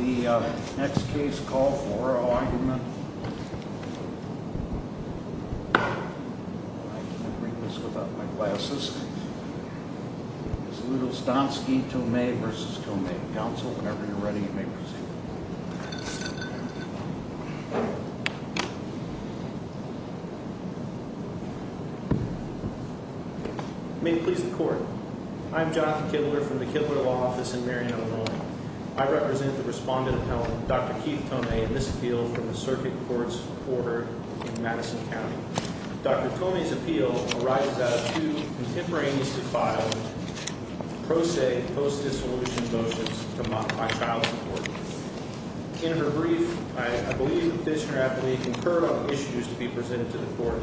May it please the court, I'm Jonathan Kibler from the Kibler Law Office in Marion, Illinois. I represent the Respondent of Health, Dr. Keith Thomae, in this appeal from the Circuit Courts in Madison County. Dr. Thomae's appeal arises out of two contemporaneously filed pro se post-dissolution motions to modify child support. In her brief, I believe the petitioner aptly concurred on the issues to be presented to the court.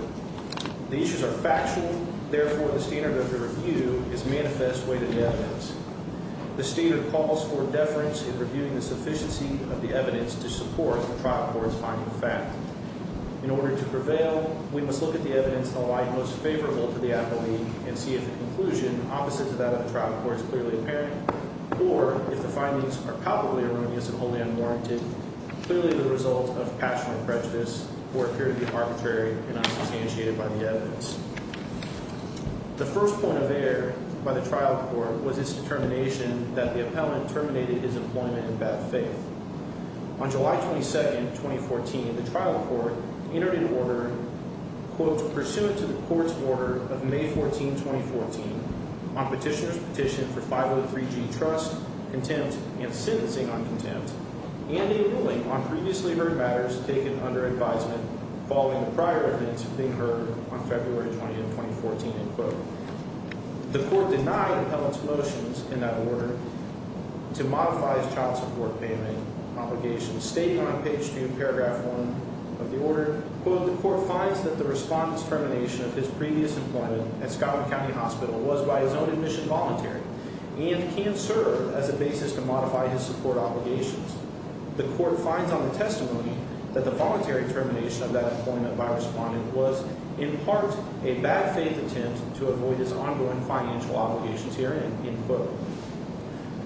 The issues are factual, therefore the standard of the review is manifest way to the evidence. The standard calls for deference in reviewing the sufficiency of the evidence to support the trial court's finding of fact. In order to prevail, we must look at the evidence in the light most favorable to the appellee, and see if the conclusion opposite to that of the trial court is clearly apparent, or if the findings are palpably erroneous and wholly unwarranted, clearly the result of passion or prejudice, or appear to be arbitrary and unsubstantiated by the evidence. The first point of error by the trial court was its determination that the appellant terminated his employment in bad faith. On July 22nd, 2014, the trial court entered into order, quote, pursuant to the court's order of May 14, 2014, on petitioner's petition for 503G trust, contempt, and sentencing on contempt, and a ruling on previously heard matters taken under advisement following the prior evidence being heard on February 20th, 2014, end quote. The court denied the appellant's motions in that order to modify his child support payment obligations. Stating on page 2, paragraph 1 of the order, quote, the court finds that the respondent's termination of his previous employment at Scottsdale County Hospital was by his own admission voluntary, and can serve as a basis to modify his support obligations. The court finds on the testimony that the voluntary termination of that employment by a respondent was, in part, a bad faith attempt to avoid his ongoing financial obligations here, end quote.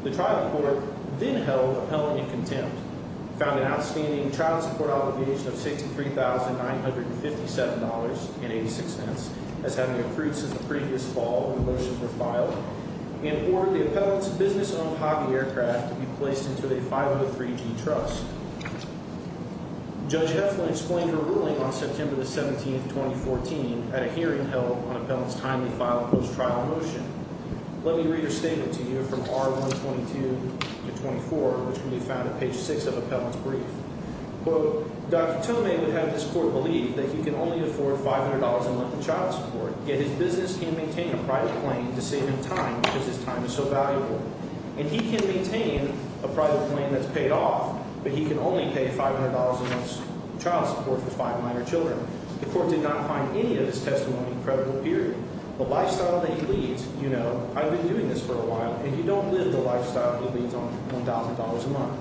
The trial court then held the appellant in contempt, found an outstanding child support obligation of $63,957.86, as having accrued since the previous fall when the motions were filed, and ordered the appellant's business-owned hobby aircraft to be placed into a 503G trust. Judge Heflin explained her ruling on September the 17th, 2014, at a hearing held on appellant's timely filed post-trial motion. Let me read her statement to you from R122 to 24, which can be found at page 6 of appellant's brief. Quote, Dr. Tomei would have this court believe that he can only afford $500 a month in child support, yet his business can maintain a private plane to save him time because his time is so valuable. And he can maintain a private plane that's paid off, but he can only pay $500 a month in child support for five minor children. The court did not find any of this testimony credible, period. The lifestyle that he leads, you know, I've been doing this for a while, and you don't live the lifestyle he leads on $1,000 a month.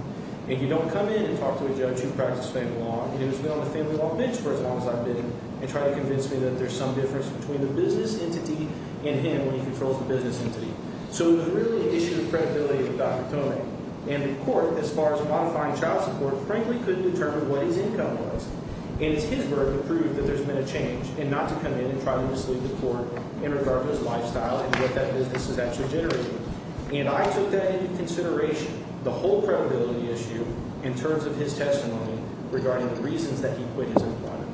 And you don't come in and talk to a judge who practices family law, and who's been on the family law bench for as long as I've been, and try to convince me that there's some difference between the business entity and him when he controls the business entity. So it was really an issue of credibility with Dr. Tomei. And the court, as far as modifying child support, frankly couldn't determine what his income was. And it's his work to prove that there's been a change, and not to come in and try to mislead the court in regard to his lifestyle and what that business is actually generating. And I took that into consideration, the whole credibility issue, in terms of his testimony regarding the reasons that he quit his employment,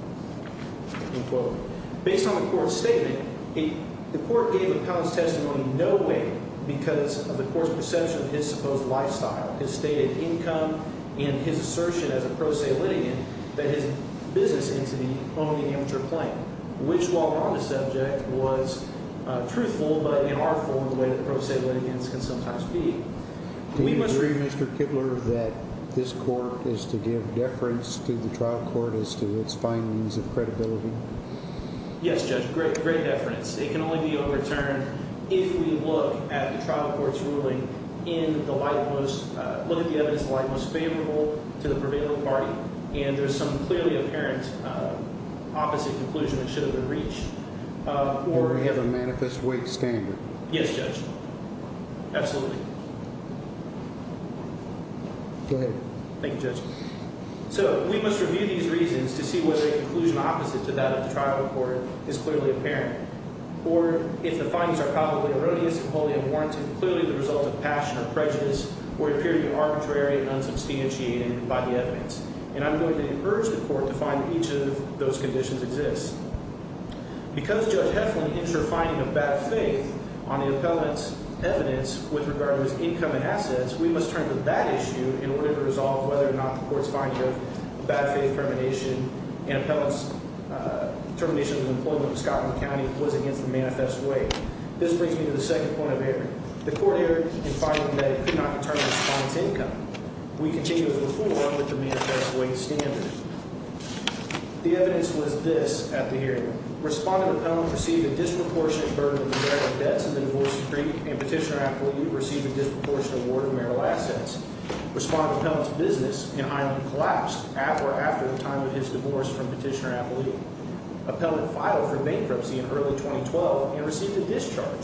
end quote. Based on the court's statement, the court gave Appellant's testimony in no way because of the court's perception of his supposed lifestyle, his stated income, and his assertion as a pro se litigant that his business entity owned the amateur plane, which law on the subject was truthful, but in our form, the way that pro se litigants can sometimes be. Do you agree, Mr. Kibler, that this court is to give deference to the trial court as to its findings of credibility? Yes, Judge, great deference. It can only be overturned if we look at the trial court's ruling in the light most – look at the evidence in the light most favorable to the prevailing party, and there's some clearly apparent opposite conclusion that should have been reached. Or we have a manifest weak standard. Yes, Judge, absolutely. Go ahead. Thank you, Judge. So we must review these reasons to see whether a conclusion opposite to that of the trial court is clearly apparent, or if the findings are probably erroneous and wholly unwarranted, clearly the result of passion or prejudice, or appear to be arbitrary and unsubstantiated by the evidence. And I'm going to urge the court to find that each of those conditions exists. Because Judge Heflin's initial finding of bad faith on the appellant's evidence with regard to his income and assets, we must turn to that issue in order to resolve whether or not the court's finding of bad faith termination and appellant's termination of employment with Scotland County was against the manifest way. This brings me to the second point of error. The court error in finding that it could not determine the appellant's income. We continue as before with the manifest way standard. The evidence was this at the hearing. Respondent appellant received a disproportionate burden of direct debts in the divorce decree, and petitioner appellate received a disproportionate award of marital assets. Respondent appellant's business in Highland collapsed at or after the time of his divorce from petitioner appellate. Appellant filed for bankruptcy in early 2012 and received a discharge.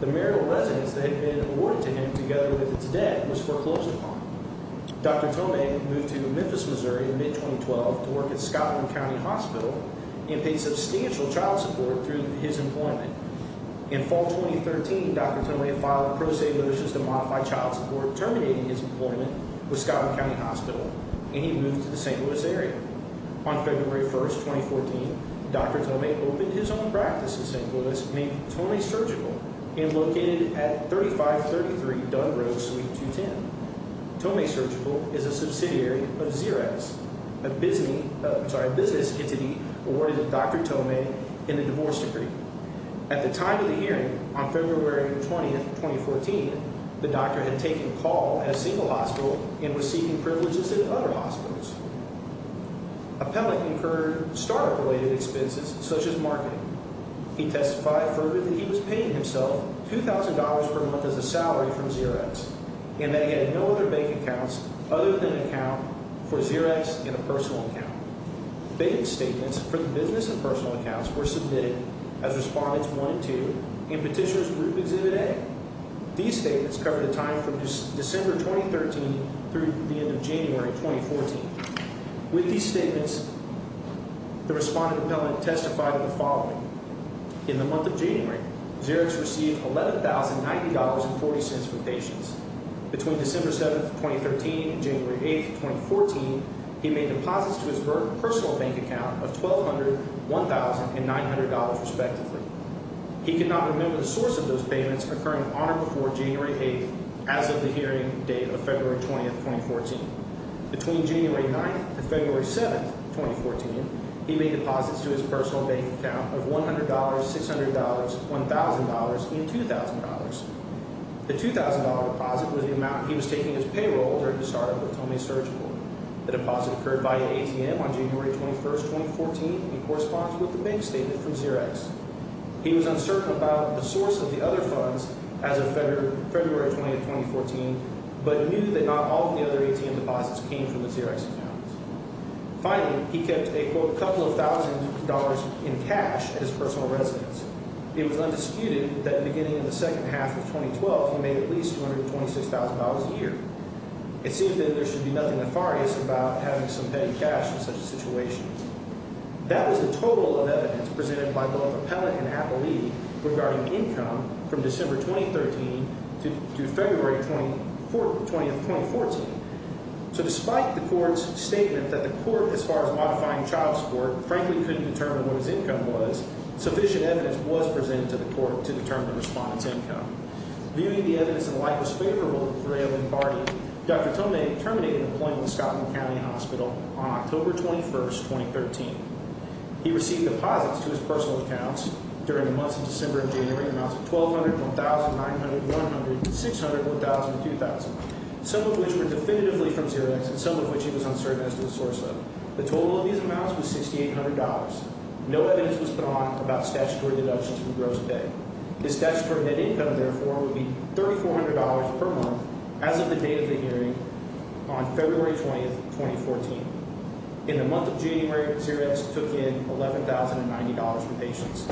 The marital residence that had been awarded to him together with its debt was foreclosed upon. Dr. Tomei moved to Memphis, Missouri in mid-2012 to work at Scotland County Hospital and paid substantial child support through his employment. In fall 2013, Dr. Tomei filed pro se motions to modify child support terminating his employment with Scotland County Hospital, and he moved to the St. Louis area. On February 1, 2014, Dr. Tomei opened his own practice in St. Louis named Tomei Surgical and located at 3533 Dunn Road, Suite 210. Tomei Surgical is a subsidiary of Xerez. A business entity awarded Dr. Tomei in the divorce decree. At the time of the hearing, on February 20, 2014, the doctor had taken a call at a single hospital and was seeking privileges at other hospitals. Appellant incurred startup-related expenses such as marketing. He testified further that he was paying himself $2,000 per month as a salary from Xerez, and that he had no other bank accounts other than an account for Xerez and a personal account. Bank statements for the business and personal accounts were submitted as Respondents 1 and 2 and Petitioners Group Exhibit A. These statements covered a time from December 2013 through the end of January 2014. With these statements, the Respondent Appellant testified of the following. In the month of January, Xerez received $11,090.40 from patients. Between December 7, 2013 and January 8, 2014, he made deposits to his personal bank account of $1,200, $1,000, and $900, respectively. He could not remember the source of those payments occurring on or before January 8, as of the hearing date of February 20, 2014. Between January 9 and February 7, 2014, he made deposits to his personal bank account of $100, $600, $1,000, and $2,000. The $2,000 deposit was the amount he was taking as payroll during his startup with Tomei Surgical. The deposit occurred via ATM on January 21, 2014 and corresponds with the bank statement from Xerez. He was uncertain about the source of the other funds as of February 20, 2014, but knew that not all of the other ATM deposits came from the Xerez account. Finally, he kept a couple of thousand dollars in cash at his personal residence. It was undisputed that beginning in the second half of 2012, he made at least $226,000 a year. It seems that there should be nothing nefarious about having some petty cash in such a situation. That was the total of evidence presented by both Appellate and Appellee regarding income from December 2013 to February 20, 2014. So despite the court's statement that the court, as far as modifying child support, frankly couldn't determine what his income was, sufficient evidence was presented to the court to determine the respondent's income. Viewing the evidence in a light that was favorable for him and Barney, Dr. Tomei terminated employment with Scotland County Hospital on October 21, 2013. He received deposits to his personal accounts during the months of December and January in amounts of $1,200, $1,900, $100, $600, $1,000, $2,000, some of which were definitively from Xerez and some of which he was uncertain as to the source of. The total of these amounts was $6,800. No evidence was put on about statutory deductions for gross debt. His statutory net income, therefore, would be $3,400 per month as of the date of the hearing on February 20, 2014. In the month of January, Xerez took in $11,090 from patients.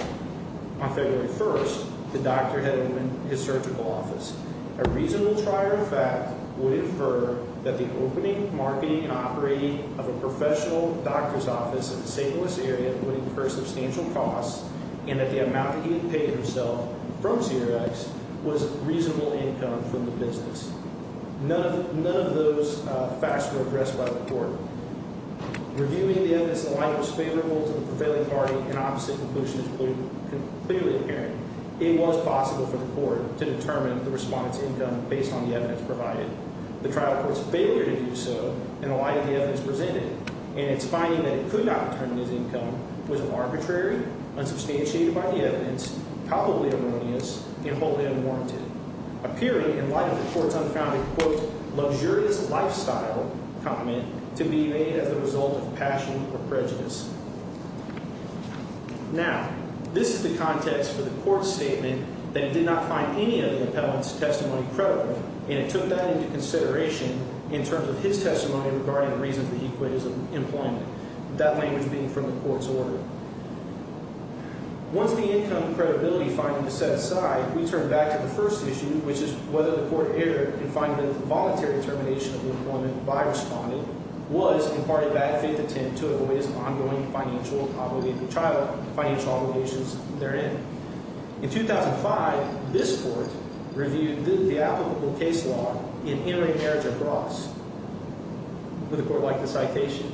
On February 1st, the doctor had opened his surgical office. A reasonable trier of fact would infer that the opening, marketing, and operating of a professional doctor's office in the St. Louis area would incur substantial costs and that the amount that he had paid himself from Xerez was reasonable income from the business. None of those facts were addressed by the court. Reviewing the evidence in the light that was favorable to the prevailing party and opposite conclusion is clearly apparent. It was possible for the court to determine the respondent's income based on the evidence provided. The trial court's failure to do so in the light of the evidence presented and its finding that it could not determine his income was arbitrary, unsubstantiated by the evidence, palpably erroneous, and wholly unwarranted, appearing in light of the court's unfounded, quote, luxurious lifestyle comment to be made as a result of passion or prejudice. Now, this is the context for the court's statement that it did not find any of the appellant's testimony credible, and it took that into consideration in terms of his testimony regarding the reasons that he quit his employment, that language being from the court's order. Once the income credibility finding is set aside, we turn back to the first issue, which is whether the court erred in finding that the voluntary termination of the employment by a respondent was, in part, a bad faith attempt to avoid his ongoing financial obligations therein. In 2005, this court reviewed the applicable case law in intermarriage of broths with a court like the citation.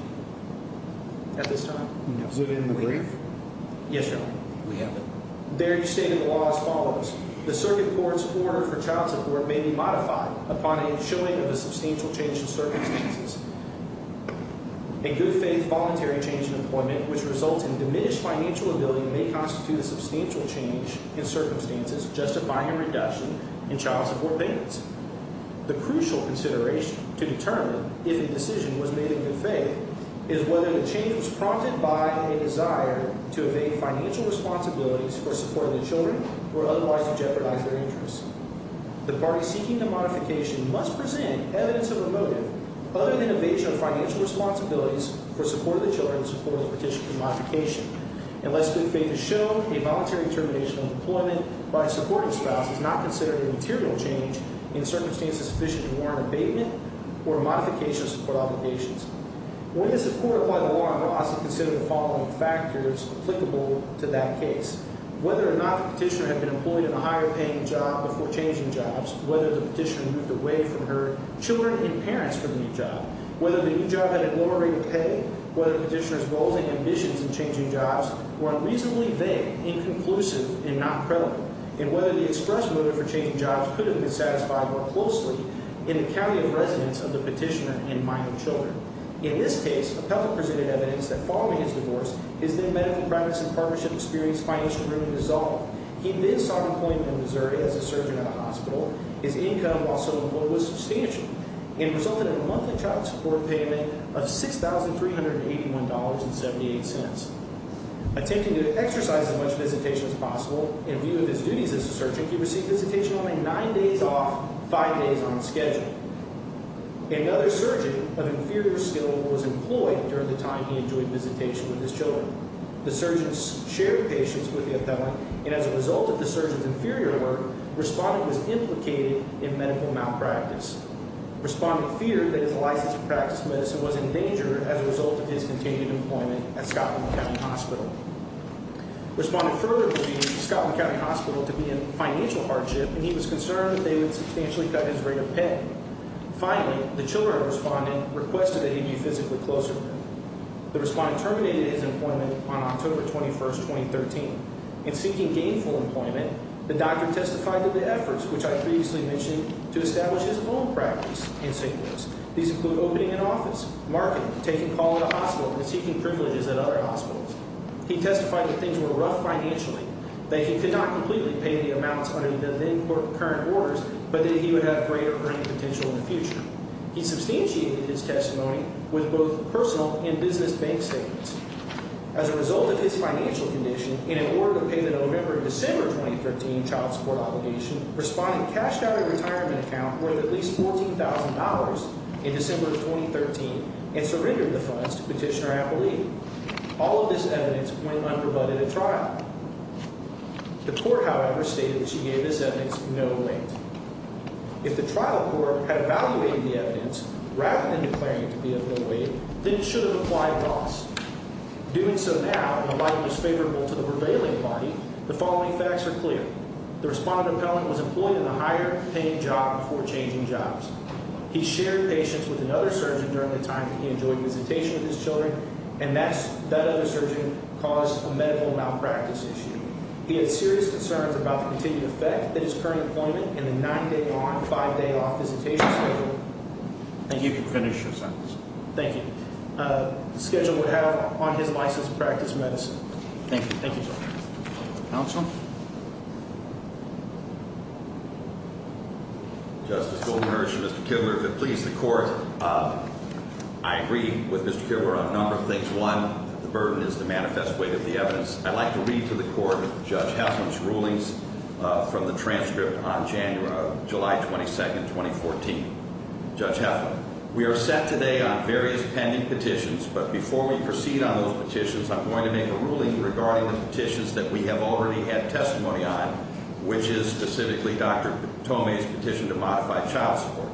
At this time? No. Is it in the brief? Yes, Your Honor. We have it. There, you state in the law as follows. The circuit court's order for child support may be modified upon a showing of a substantial change in circumstances. A good faith voluntary change in employment, which results in diminished financial ability, may constitute a substantial change in circumstances justifying a reduction in child support payments. The crucial consideration to determine if a decision was made in good faith is whether the change was prompted by a desire to evade financial responsibilities for support of the children or otherwise to jeopardize their interests. The party seeking the modification must present evidence of a motive other than evasion of financial responsibilities for support of the children in support of the petition for modification. Unless good faith is shown, a voluntary termination of employment by a supporting spouse is not considered a material change in circumstances sufficient to warrant abatement or a modification of support obligations. When this court applied the law on broths, it considered the following factors applicable to that case. Whether or not the petitioner had been employed in a higher-paying job before changing jobs, whether the petitioner moved away from her children and parents for the new job, whether the new job had a lower rate of pay, whether the petitioner's goals and ambitions in changing jobs were unreasonably vague, inconclusive, and not credible, and whether the express motive for changing jobs could have been satisfied more closely in the county of residence of the petitioner and my own children. In this case, the public presented evidence that following his divorce, his then-medical practice and partnership experience financially really dissolved. He then sought employment in Missouri as a surgeon at a hospital. His income while still employed was substantial and resulted in a monthly child support payment of $6,381.78. Attempting to exercise as much visitation as possible in view of his duties as a surgeon, he received visitation only nine days off, five days on schedule. Another surgeon of inferior skill was employed during the time he enjoyed visitation with his children. The surgeons shared patients with the appellant, and as a result of the surgeon's inferior work, Respondent was implicated in medical malpractice. Respondent feared that his license to practice medicine was in danger as a result of his continued employment at Scotland County Hospital. Respondent further believed Scotland County Hospital to be in financial hardship, and he was concerned that they would substantially cut his rate of pay. Finally, the children of Respondent requested that he be physically closer to them. The Respondent terminated his employment on October 21, 2013. In seeking gainful employment, the doctor testified to the efforts, which I previously mentioned, to establish his own practice in St. Louis. These include opening an office, marketing, taking call at a hospital, and seeking privileges at other hospitals. He testified that things were rough financially, that he could not completely pay the amounts under the then current orders, but that he would have greater earning potential in the future. He substantiated his testimony with both personal and business bank statements. As a result of his financial condition, in an order to pay the November and December 2013 child support obligation, Respondent cashed out a retirement account worth at least $14,000 in December 2013 and surrendered the funds to Petitioner Appellee. All of this evidence went unrebutted at trial. The court, however, stated that she gave this evidence no weight. If the trial court had evaluated the evidence rather than declaring it to be of no weight, then it should have applied laws. Doing so now, in a light that was favorable to the prevailing body, the following facts are clear. The Respondent appellant was employed in a higher-paying job before changing jobs. He shared patients with another surgeon during the time that he enjoyed visitation with his children, and that other surgeon caused a medical malpractice issue. He had serious concerns about the continued effect that his current employment and the nine-day on, five-day off visitation schedule Thank you. You can finish your sentence. Thank you. The schedule would have on his license to practice medicine. Thank you. Thank you, sir. Counsel? Justice Goldman Ursh and Mr. Kibler, if it pleases the court, I agree with Mr. Kibler on a number of things. One, the burden is the manifest weight of the evidence. I'd like to read to the court Judge Heflin's rulings from the transcript on July 22, 2014. Judge Heflin, we are set today on various pending petitions, but before we proceed on those petitions, I'm going to make a ruling regarding the petitions that we have already had testimony on, which is specifically Dr. Thome's petition to modify child support.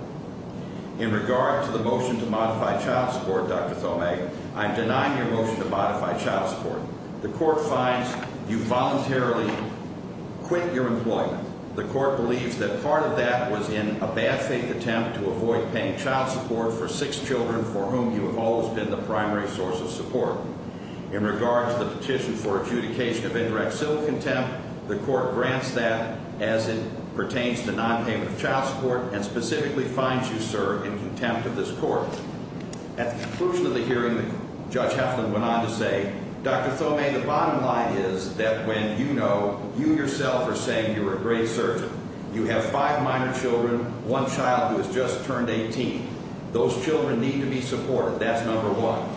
In regard to the motion to modify child support, Dr. Thome, I'm denying your motion to modify child support. The court finds you voluntarily quit your employment. The court believes that part of that was in a bad faith attempt to avoid paying child support for six children for whom you have always been the primary source of support. In regard to the petition for adjudication of indirect civil contempt, the court grants that as it pertains to non-payment of child support and specifically finds you, sir, in contempt of this court. At the conclusion of the hearing, Judge Heflin went on to say, Dr. Thome, the bottom line is that when you know you yourself are saying you're a great surgeon, you have five minor children, one child who has just turned 18. Those children need to be supported. That's number one.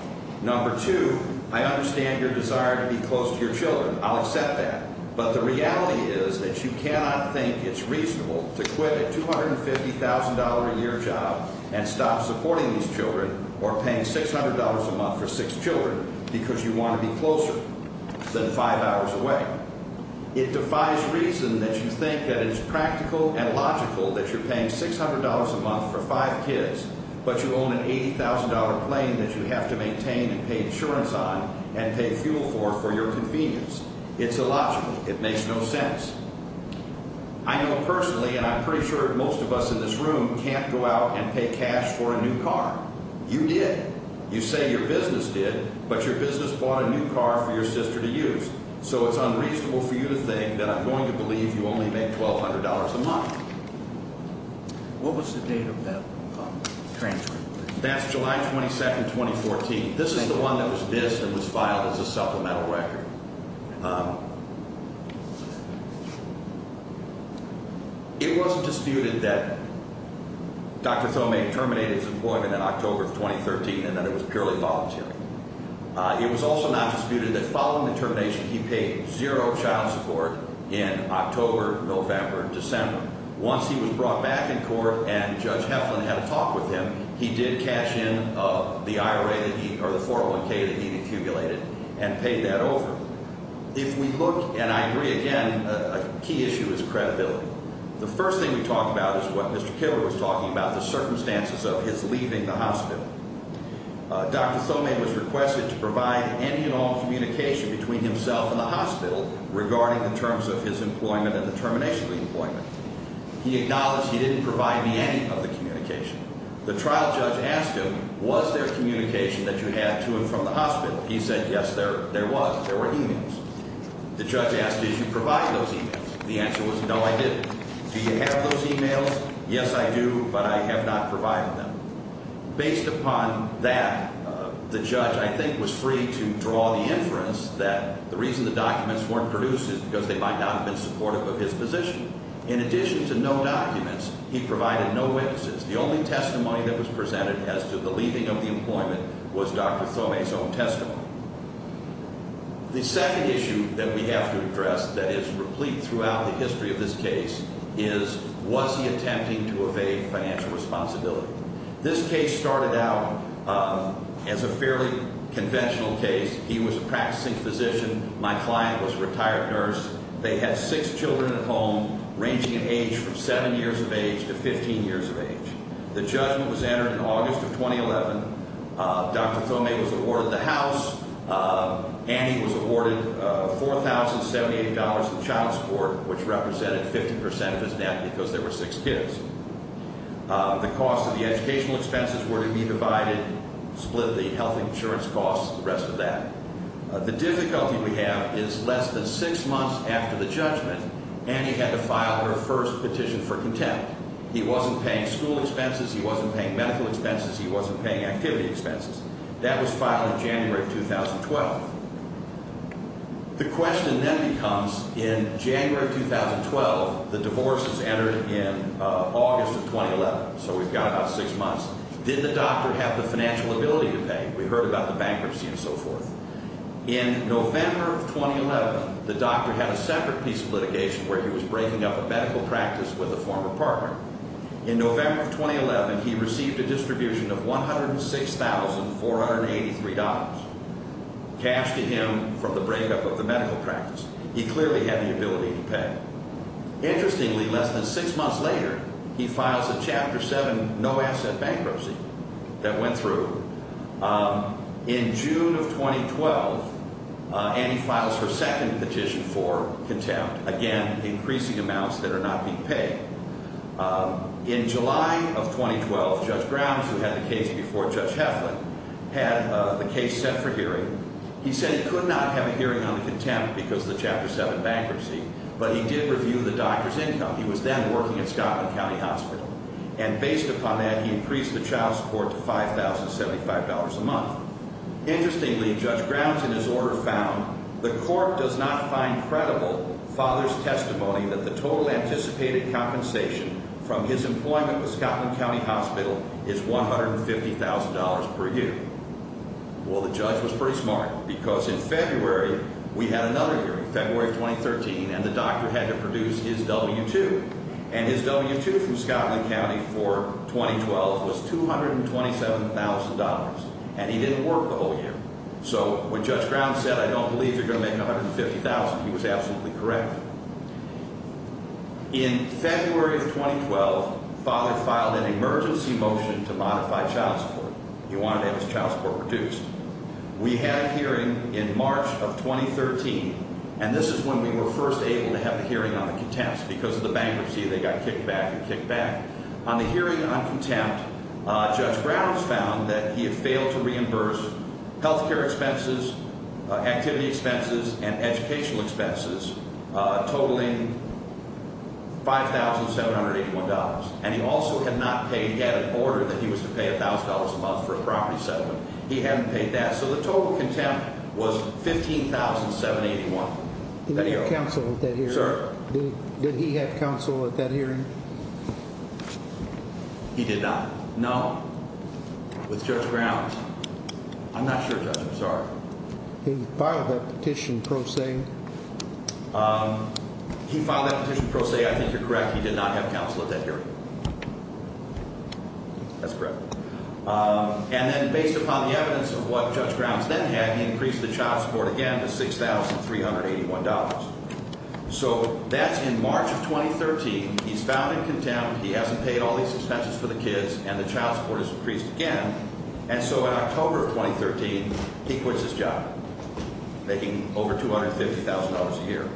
Number two, I understand your desire to be close to your children. I'll accept that. But the reality is that you cannot think it's reasonable to quit a $250,000-a-year job and stop supporting these children or paying $600 a month for six children because you want to be closer than five hours away. It defies reason that you think that it's practical and logical that you're paying $600 a month for five kids, but you own an $80,000 plane that you have to maintain and pay insurance on and pay fuel for for your convenience. It's illogical. It makes no sense. I know personally, and I'm pretty sure most of us in this room, can't go out and pay cash for a new car. You did. You say your business did, but your business bought a new car for your sister to use. So it's unreasonable for you to think that I'm going to believe you only make $1,200 a month. What was the date of that transcript? That's July 22, 2014. This is the one that was dissed and was filed as a supplemental record. It wasn't disputed that Dr. Thomae terminated his employment in October of 2013 and that it was purely voluntary. It was also not disputed that following the termination, he paid zero child support in October, November, and December. Once he was brought back in court and Judge Heflin had a talk with him, he did cash in the IRA or the 401K that he'd accumulated and paid that over. If we look, and I agree again, a key issue is credibility. The first thing we talk about is what Mr. Killer was talking about, the circumstances of his leaving the hospital. Dr. Thomae was requested to provide any and all communication between himself and the hospital regarding the terms of his employment and the termination of the employment. He acknowledged he didn't provide me any of the communication. The trial judge asked him, was there communication that you had to and from the hospital? He said, yes, there was. There were e-mails. The judge asked, did you provide those e-mails? The answer was, no, I didn't. Do you have those e-mails? Yes, I do, but I have not provided them. Based upon that, the judge, I think, was free to draw the inference that the reason the documents weren't produced is because they might not have been supportive of his position. In addition to no documents, he provided no witnesses. The only testimony that was presented as to the leaving of the employment was Dr. Thomae's own testimony. The second issue that we have to address that is replete throughout the history of this case is, was he attempting to evade financial responsibility? This case started out as a fairly conventional case. He was a practicing physician. My client was a retired nurse. They had six children at home, ranging in age from seven years of age to 15 years of age. The judgment was entered in August of 2011. Dr. Thomae was awarded the house, and he was awarded $4,078 in child support, which represented 50 percent of his net because there were six kids. The cost of the educational expenses were to be divided, split the health insurance costs, the rest of that. The difficulty we have is less than six months after the judgment, Annie had to file her first petition for contempt. He wasn't paying school expenses. He wasn't paying medical expenses. He wasn't paying activity expenses. That was filed in January of 2012. The question then becomes, in January of 2012, the divorce was entered in August of 2011, so we've got about six months. Did the doctor have the financial ability to pay? We heard about the bankruptcy and so forth. In November of 2011, the doctor had a separate piece of litigation where he was breaking up a medical practice with a former partner. In November of 2011, he received a distribution of $106,483 cash to him from the breakup of the medical practice. He clearly had the ability to pay. Interestingly, less than six months later, he files a Chapter 7 no-asset bankruptcy that went through. In June of 2012, Annie files her second petition for contempt, again, increasing amounts that are not being paid. In July of 2012, Judge Grounds, who had the case before Judge Heflin, had the case set for hearing. He said he could not have a hearing on the contempt because of the Chapter 7 bankruptcy, but he did review the doctor's income. He was then working at Scotland County Hospital, and based upon that, he increased the child support to $5,075 a month. Interestingly, Judge Grounds, in his order, found, Well, the judge was pretty smart because in February, we had another hearing, February of 2013, and the doctor had to produce his W-2. And his W-2 from Scotland County for 2012 was $227,000, and he didn't work the whole year. So when Judge Grounds said, In February of 2012, the father filed an emergency motion to modify child support. He wanted to have his child support reduced. We had a hearing in March of 2013, and this is when we were first able to have the hearing on the contempt because of the bankruptcy, they got kicked back and kicked back. On the hearing on contempt, Judge Grounds found that he had failed to reimburse health care expenses, activity expenses, and educational expenses, totaling $5,781. And he also had not paid, he had an order that he was to pay $1,000 a month for a property settlement. He hadn't paid that, so the total contempt was $15,781. Did he have counsel at that hearing? Sir? Did he have counsel at that hearing? He did not. No? With Judge Grounds? I'm not sure, Judge, I'm sorry. He filed that petition pro se. He filed that petition pro se. I think you're correct. He did not have counsel at that hearing. That's correct. And then based upon the evidence of what Judge Grounds then had, he increased the child support again to $6,381. So that's in March of 2013. He's found in contempt. He hasn't paid all these expenses for the kids, and the child support has increased again. And so in October of 2013, he quits his job, making over $250,000 a year.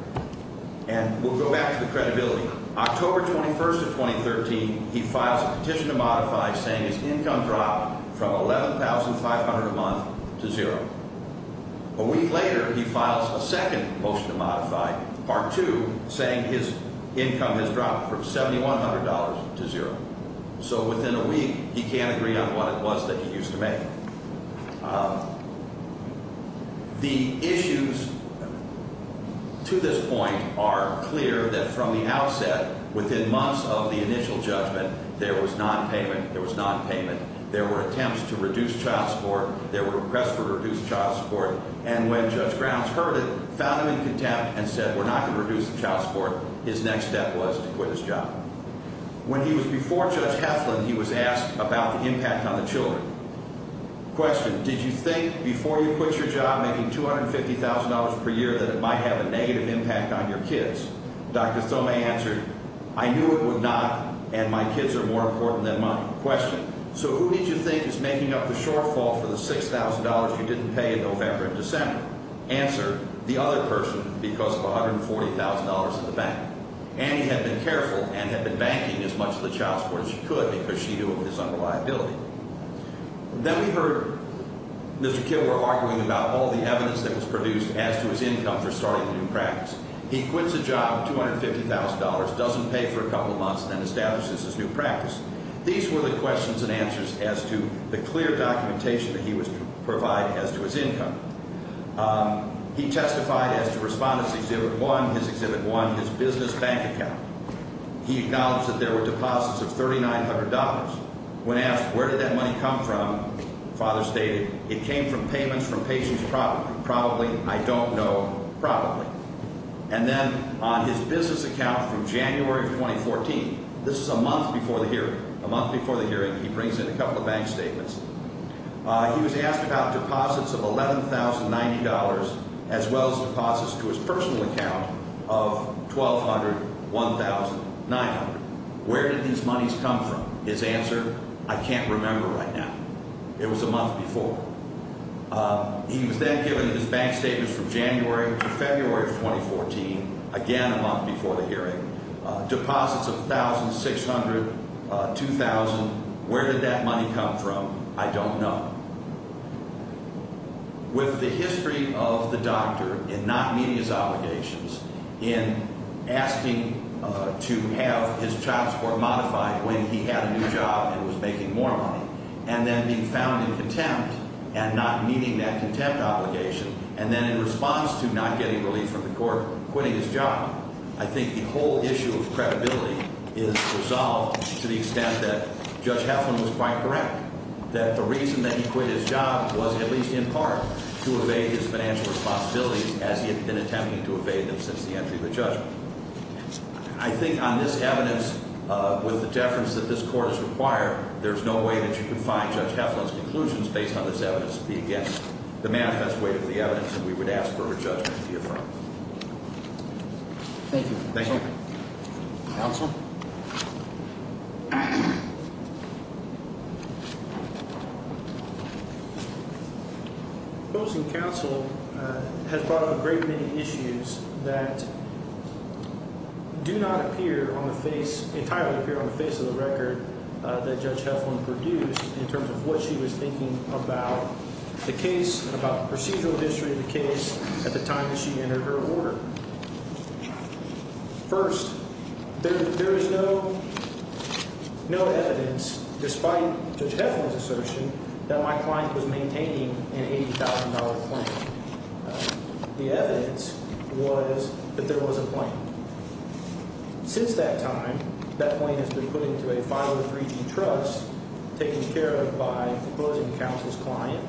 And we'll go back to the credibility. October 21st of 2013, he files a petition to modify, saying his income dropped from $11,500 a month to zero. A week later, he files a second motion to modify, Part 2, saying his income has dropped from $7,100 to zero. So within a week, he can't agree on what it was that he used to make. The issues to this point are clear that from the outset, within months of the initial judgment, there was nonpayment. There was nonpayment. There were attempts to reduce child support. There were requests for reduced child support. And when Judge Grounds heard it, found him in contempt, and said we're not going to reduce the child support, his next step was to quit his job. When he was before Judge Heflin, he was asked about the impact on the children. Question, did you think before you quit your job, making $250,000 per year, that it might have a negative impact on your kids? Dr. Thome answered, I knew it would not, and my kids are more important than money. Question, so who did you think is making up the shortfall for the $6,000 you didn't pay in November and December? Answer, the other person, because of $140,000 in the bank. Annie had been careful and had been banking as much of the child support as she could because she knew of his unreliability. Then we heard Mr. Kilgore arguing about all the evidence that was produced as to his income for starting a new practice. He quits a job, $250,000, doesn't pay for a couple of months, and then establishes his new practice. These were the questions and answers as to the clear documentation that he was to provide as to his income. He testified as to Respondents Exhibit 1, his Exhibit 1, his business bank account. He acknowledged that there were deposits of $3,900. When asked where did that money come from, Father stated, it came from payments from patients probably. Probably, I don't know, probably. And then on his business account from January of 2014, this is a month before the hearing, a month before the hearing, he brings in a couple of bank statements. He was asked about deposits of $11,090 as well as deposits to his personal account of $1,200, $1,000, $1,900. Where did these monies come from? His answer, I can't remember right now. It was a month before. He was then given his bank statements from January to February of 2014, again a month before the hearing. Deposits of $1,600, $2,000. Where did that money come from? I don't know. With the history of the doctor in not meeting his obligations, in asking to have his child support modified when he had a new job and was making more money, and then being found in contempt and not meeting that contempt obligation, and then in response to not getting relief from the court, quitting his job, I think the whole issue of credibility is resolved to the extent that Judge Heflin was quite correct, that the reason that he quit his job was at least in part to evade his financial responsibilities as he had been attempting to evade them since the entry of the judgment. I think on this evidence, with the deference that this Court has required, there's no way that you can find Judge Heflin's conclusions based on this evidence unless it be against the manifest way of the evidence, and we would ask for her judgment to be affirmed. Thank you. Thank you. Counsel? Opposing counsel has brought up a great many issues that do not appear on the face, entirely appear on the face of the record that Judge Heflin produced in terms of what she was thinking about the case, about the procedural history of the case at the time that she entered her order. First, there is no evidence, despite Judge Heflin's assertion, that my client was maintaining an $80,000 claim. The evidence was that there was a claim. Since that time, that claim has been put into a 503G trust, taken care of by opposing counsel's client,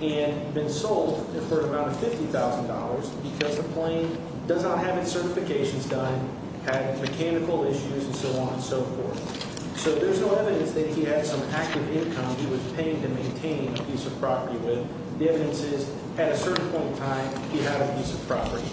and been sold for an amount of $50,000 because the claim does not have its certifications done, had mechanical issues, and so on and so forth. So there's no evidence that he had some active income he was paying to maintain a piece of property with. The evidence is, at a certain point in time, he had a piece of property.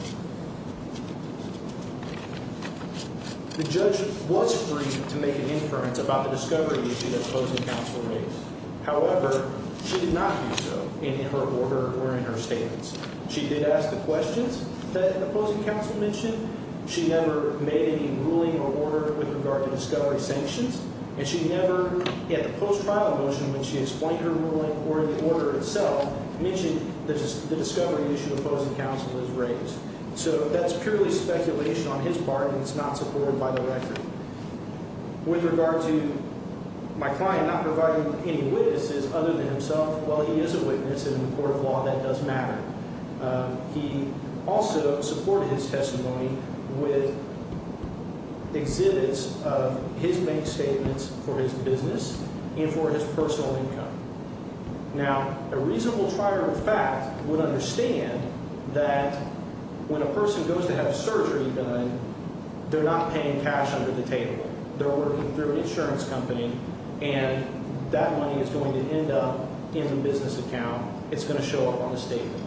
The judge was free to make an inference about the discovery issue that opposing counsel raised. However, she did not do so in her order or in her statements. She did ask the questions that opposing counsel mentioned. She never made any ruling or order with regard to discovery sanctions, and she never, in the post-trial motion when she explained her ruling or in the order itself, mentioned the discovery issue opposing counsel has raised. So that's purely speculation on his part, and it's not supported by the record. With regard to my client not providing any witnesses other than himself, well, he is a witness in a court of law that does matter. He also supported his testimony with exhibits of his main statements for his business and for his personal income. Now, a reasonable trier of fact would understand that when a person goes to have surgery done, they're not paying cash under the table. They're working through an insurance company, and that money is going to end up in the business account. It's going to show up on the statement.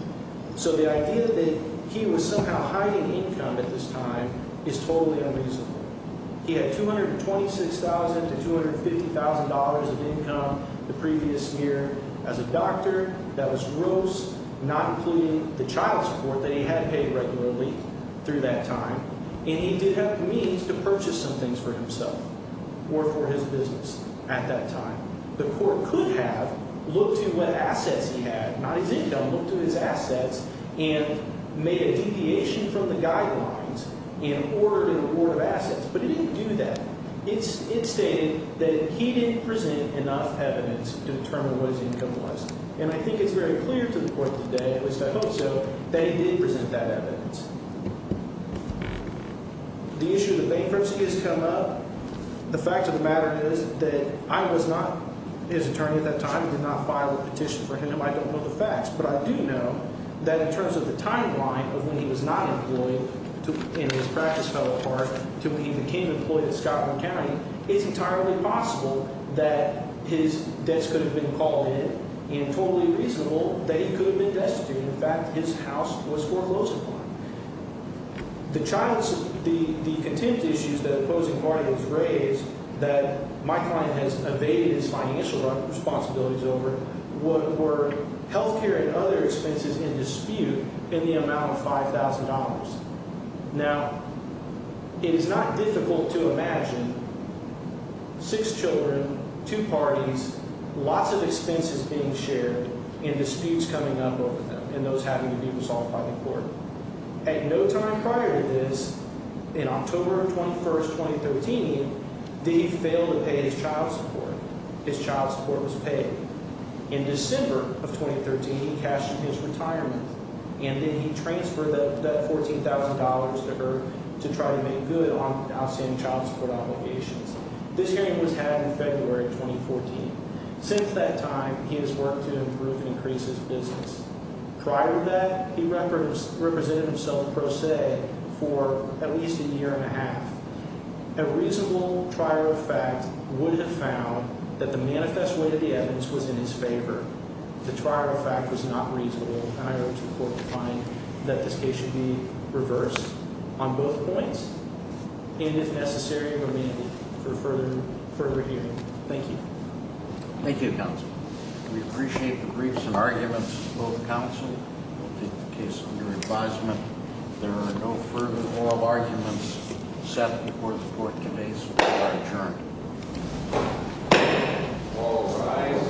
So the idea that he was somehow hiding income at this time is totally unreasonable. He had $226,000 to $250,000 of income the previous year as a doctor. That was gross, not including the child support that he had paid regularly through that time, and he did have the means to purchase some things for himself or for his business at that time. The court could have looked at what assets he had, not his income, looked at his assets, and made a deviation from the guidelines and ordered an award of assets, but it didn't do that. It stated that he didn't present enough evidence to determine what his income was, and I think it's very clear to the court today, at least I hope so, that he did present that evidence. The issue of the bankruptcy has come up. The fact of the matter is that I was not his attorney at that time. He did not file a petition for him. I don't know the facts, but I do know that in terms of the timeline of when he was not employed and his practice fell apart to when he became employed at Scottsdale County, it's entirely possible that his debts could have been called in and totally reasonable that he could have been destitute. In fact, his house was foreclosed upon. The contempt issues that opposing parties raised that my client has evaded his financial responsibilities over were health care and other expenses in dispute in the amount of $5,000. Now, it is not difficult to imagine six children, two parties, lots of expenses being shared, and disputes coming up over them and those having to be resolved by the court. At no time prior to this, in October 21, 2013, did he fail to pay his child support. His child support was paid. In December of 2013, he cashed his retirement, and then he transferred that $14,000 to her to try to make good on outstanding child support obligations. This hearing was had in February of 2014. Since that time, he has worked to improve and increase his business. Prior to that, he represented himself pro se for at least a year and a half. A reasonable trial of fact would have found that the manifest weight of the evidence was in his favor. The trial of fact was not reasonable, and I urge the court to find that this case should be reversed on both points and, if necessary, remanded for further hearing. Thank you. Thank you, counsel. We appreciate the briefs and arguments of both counsel. We'll take the case under advisement. If there are no further oral arguments set before the court today, so be it adjourned.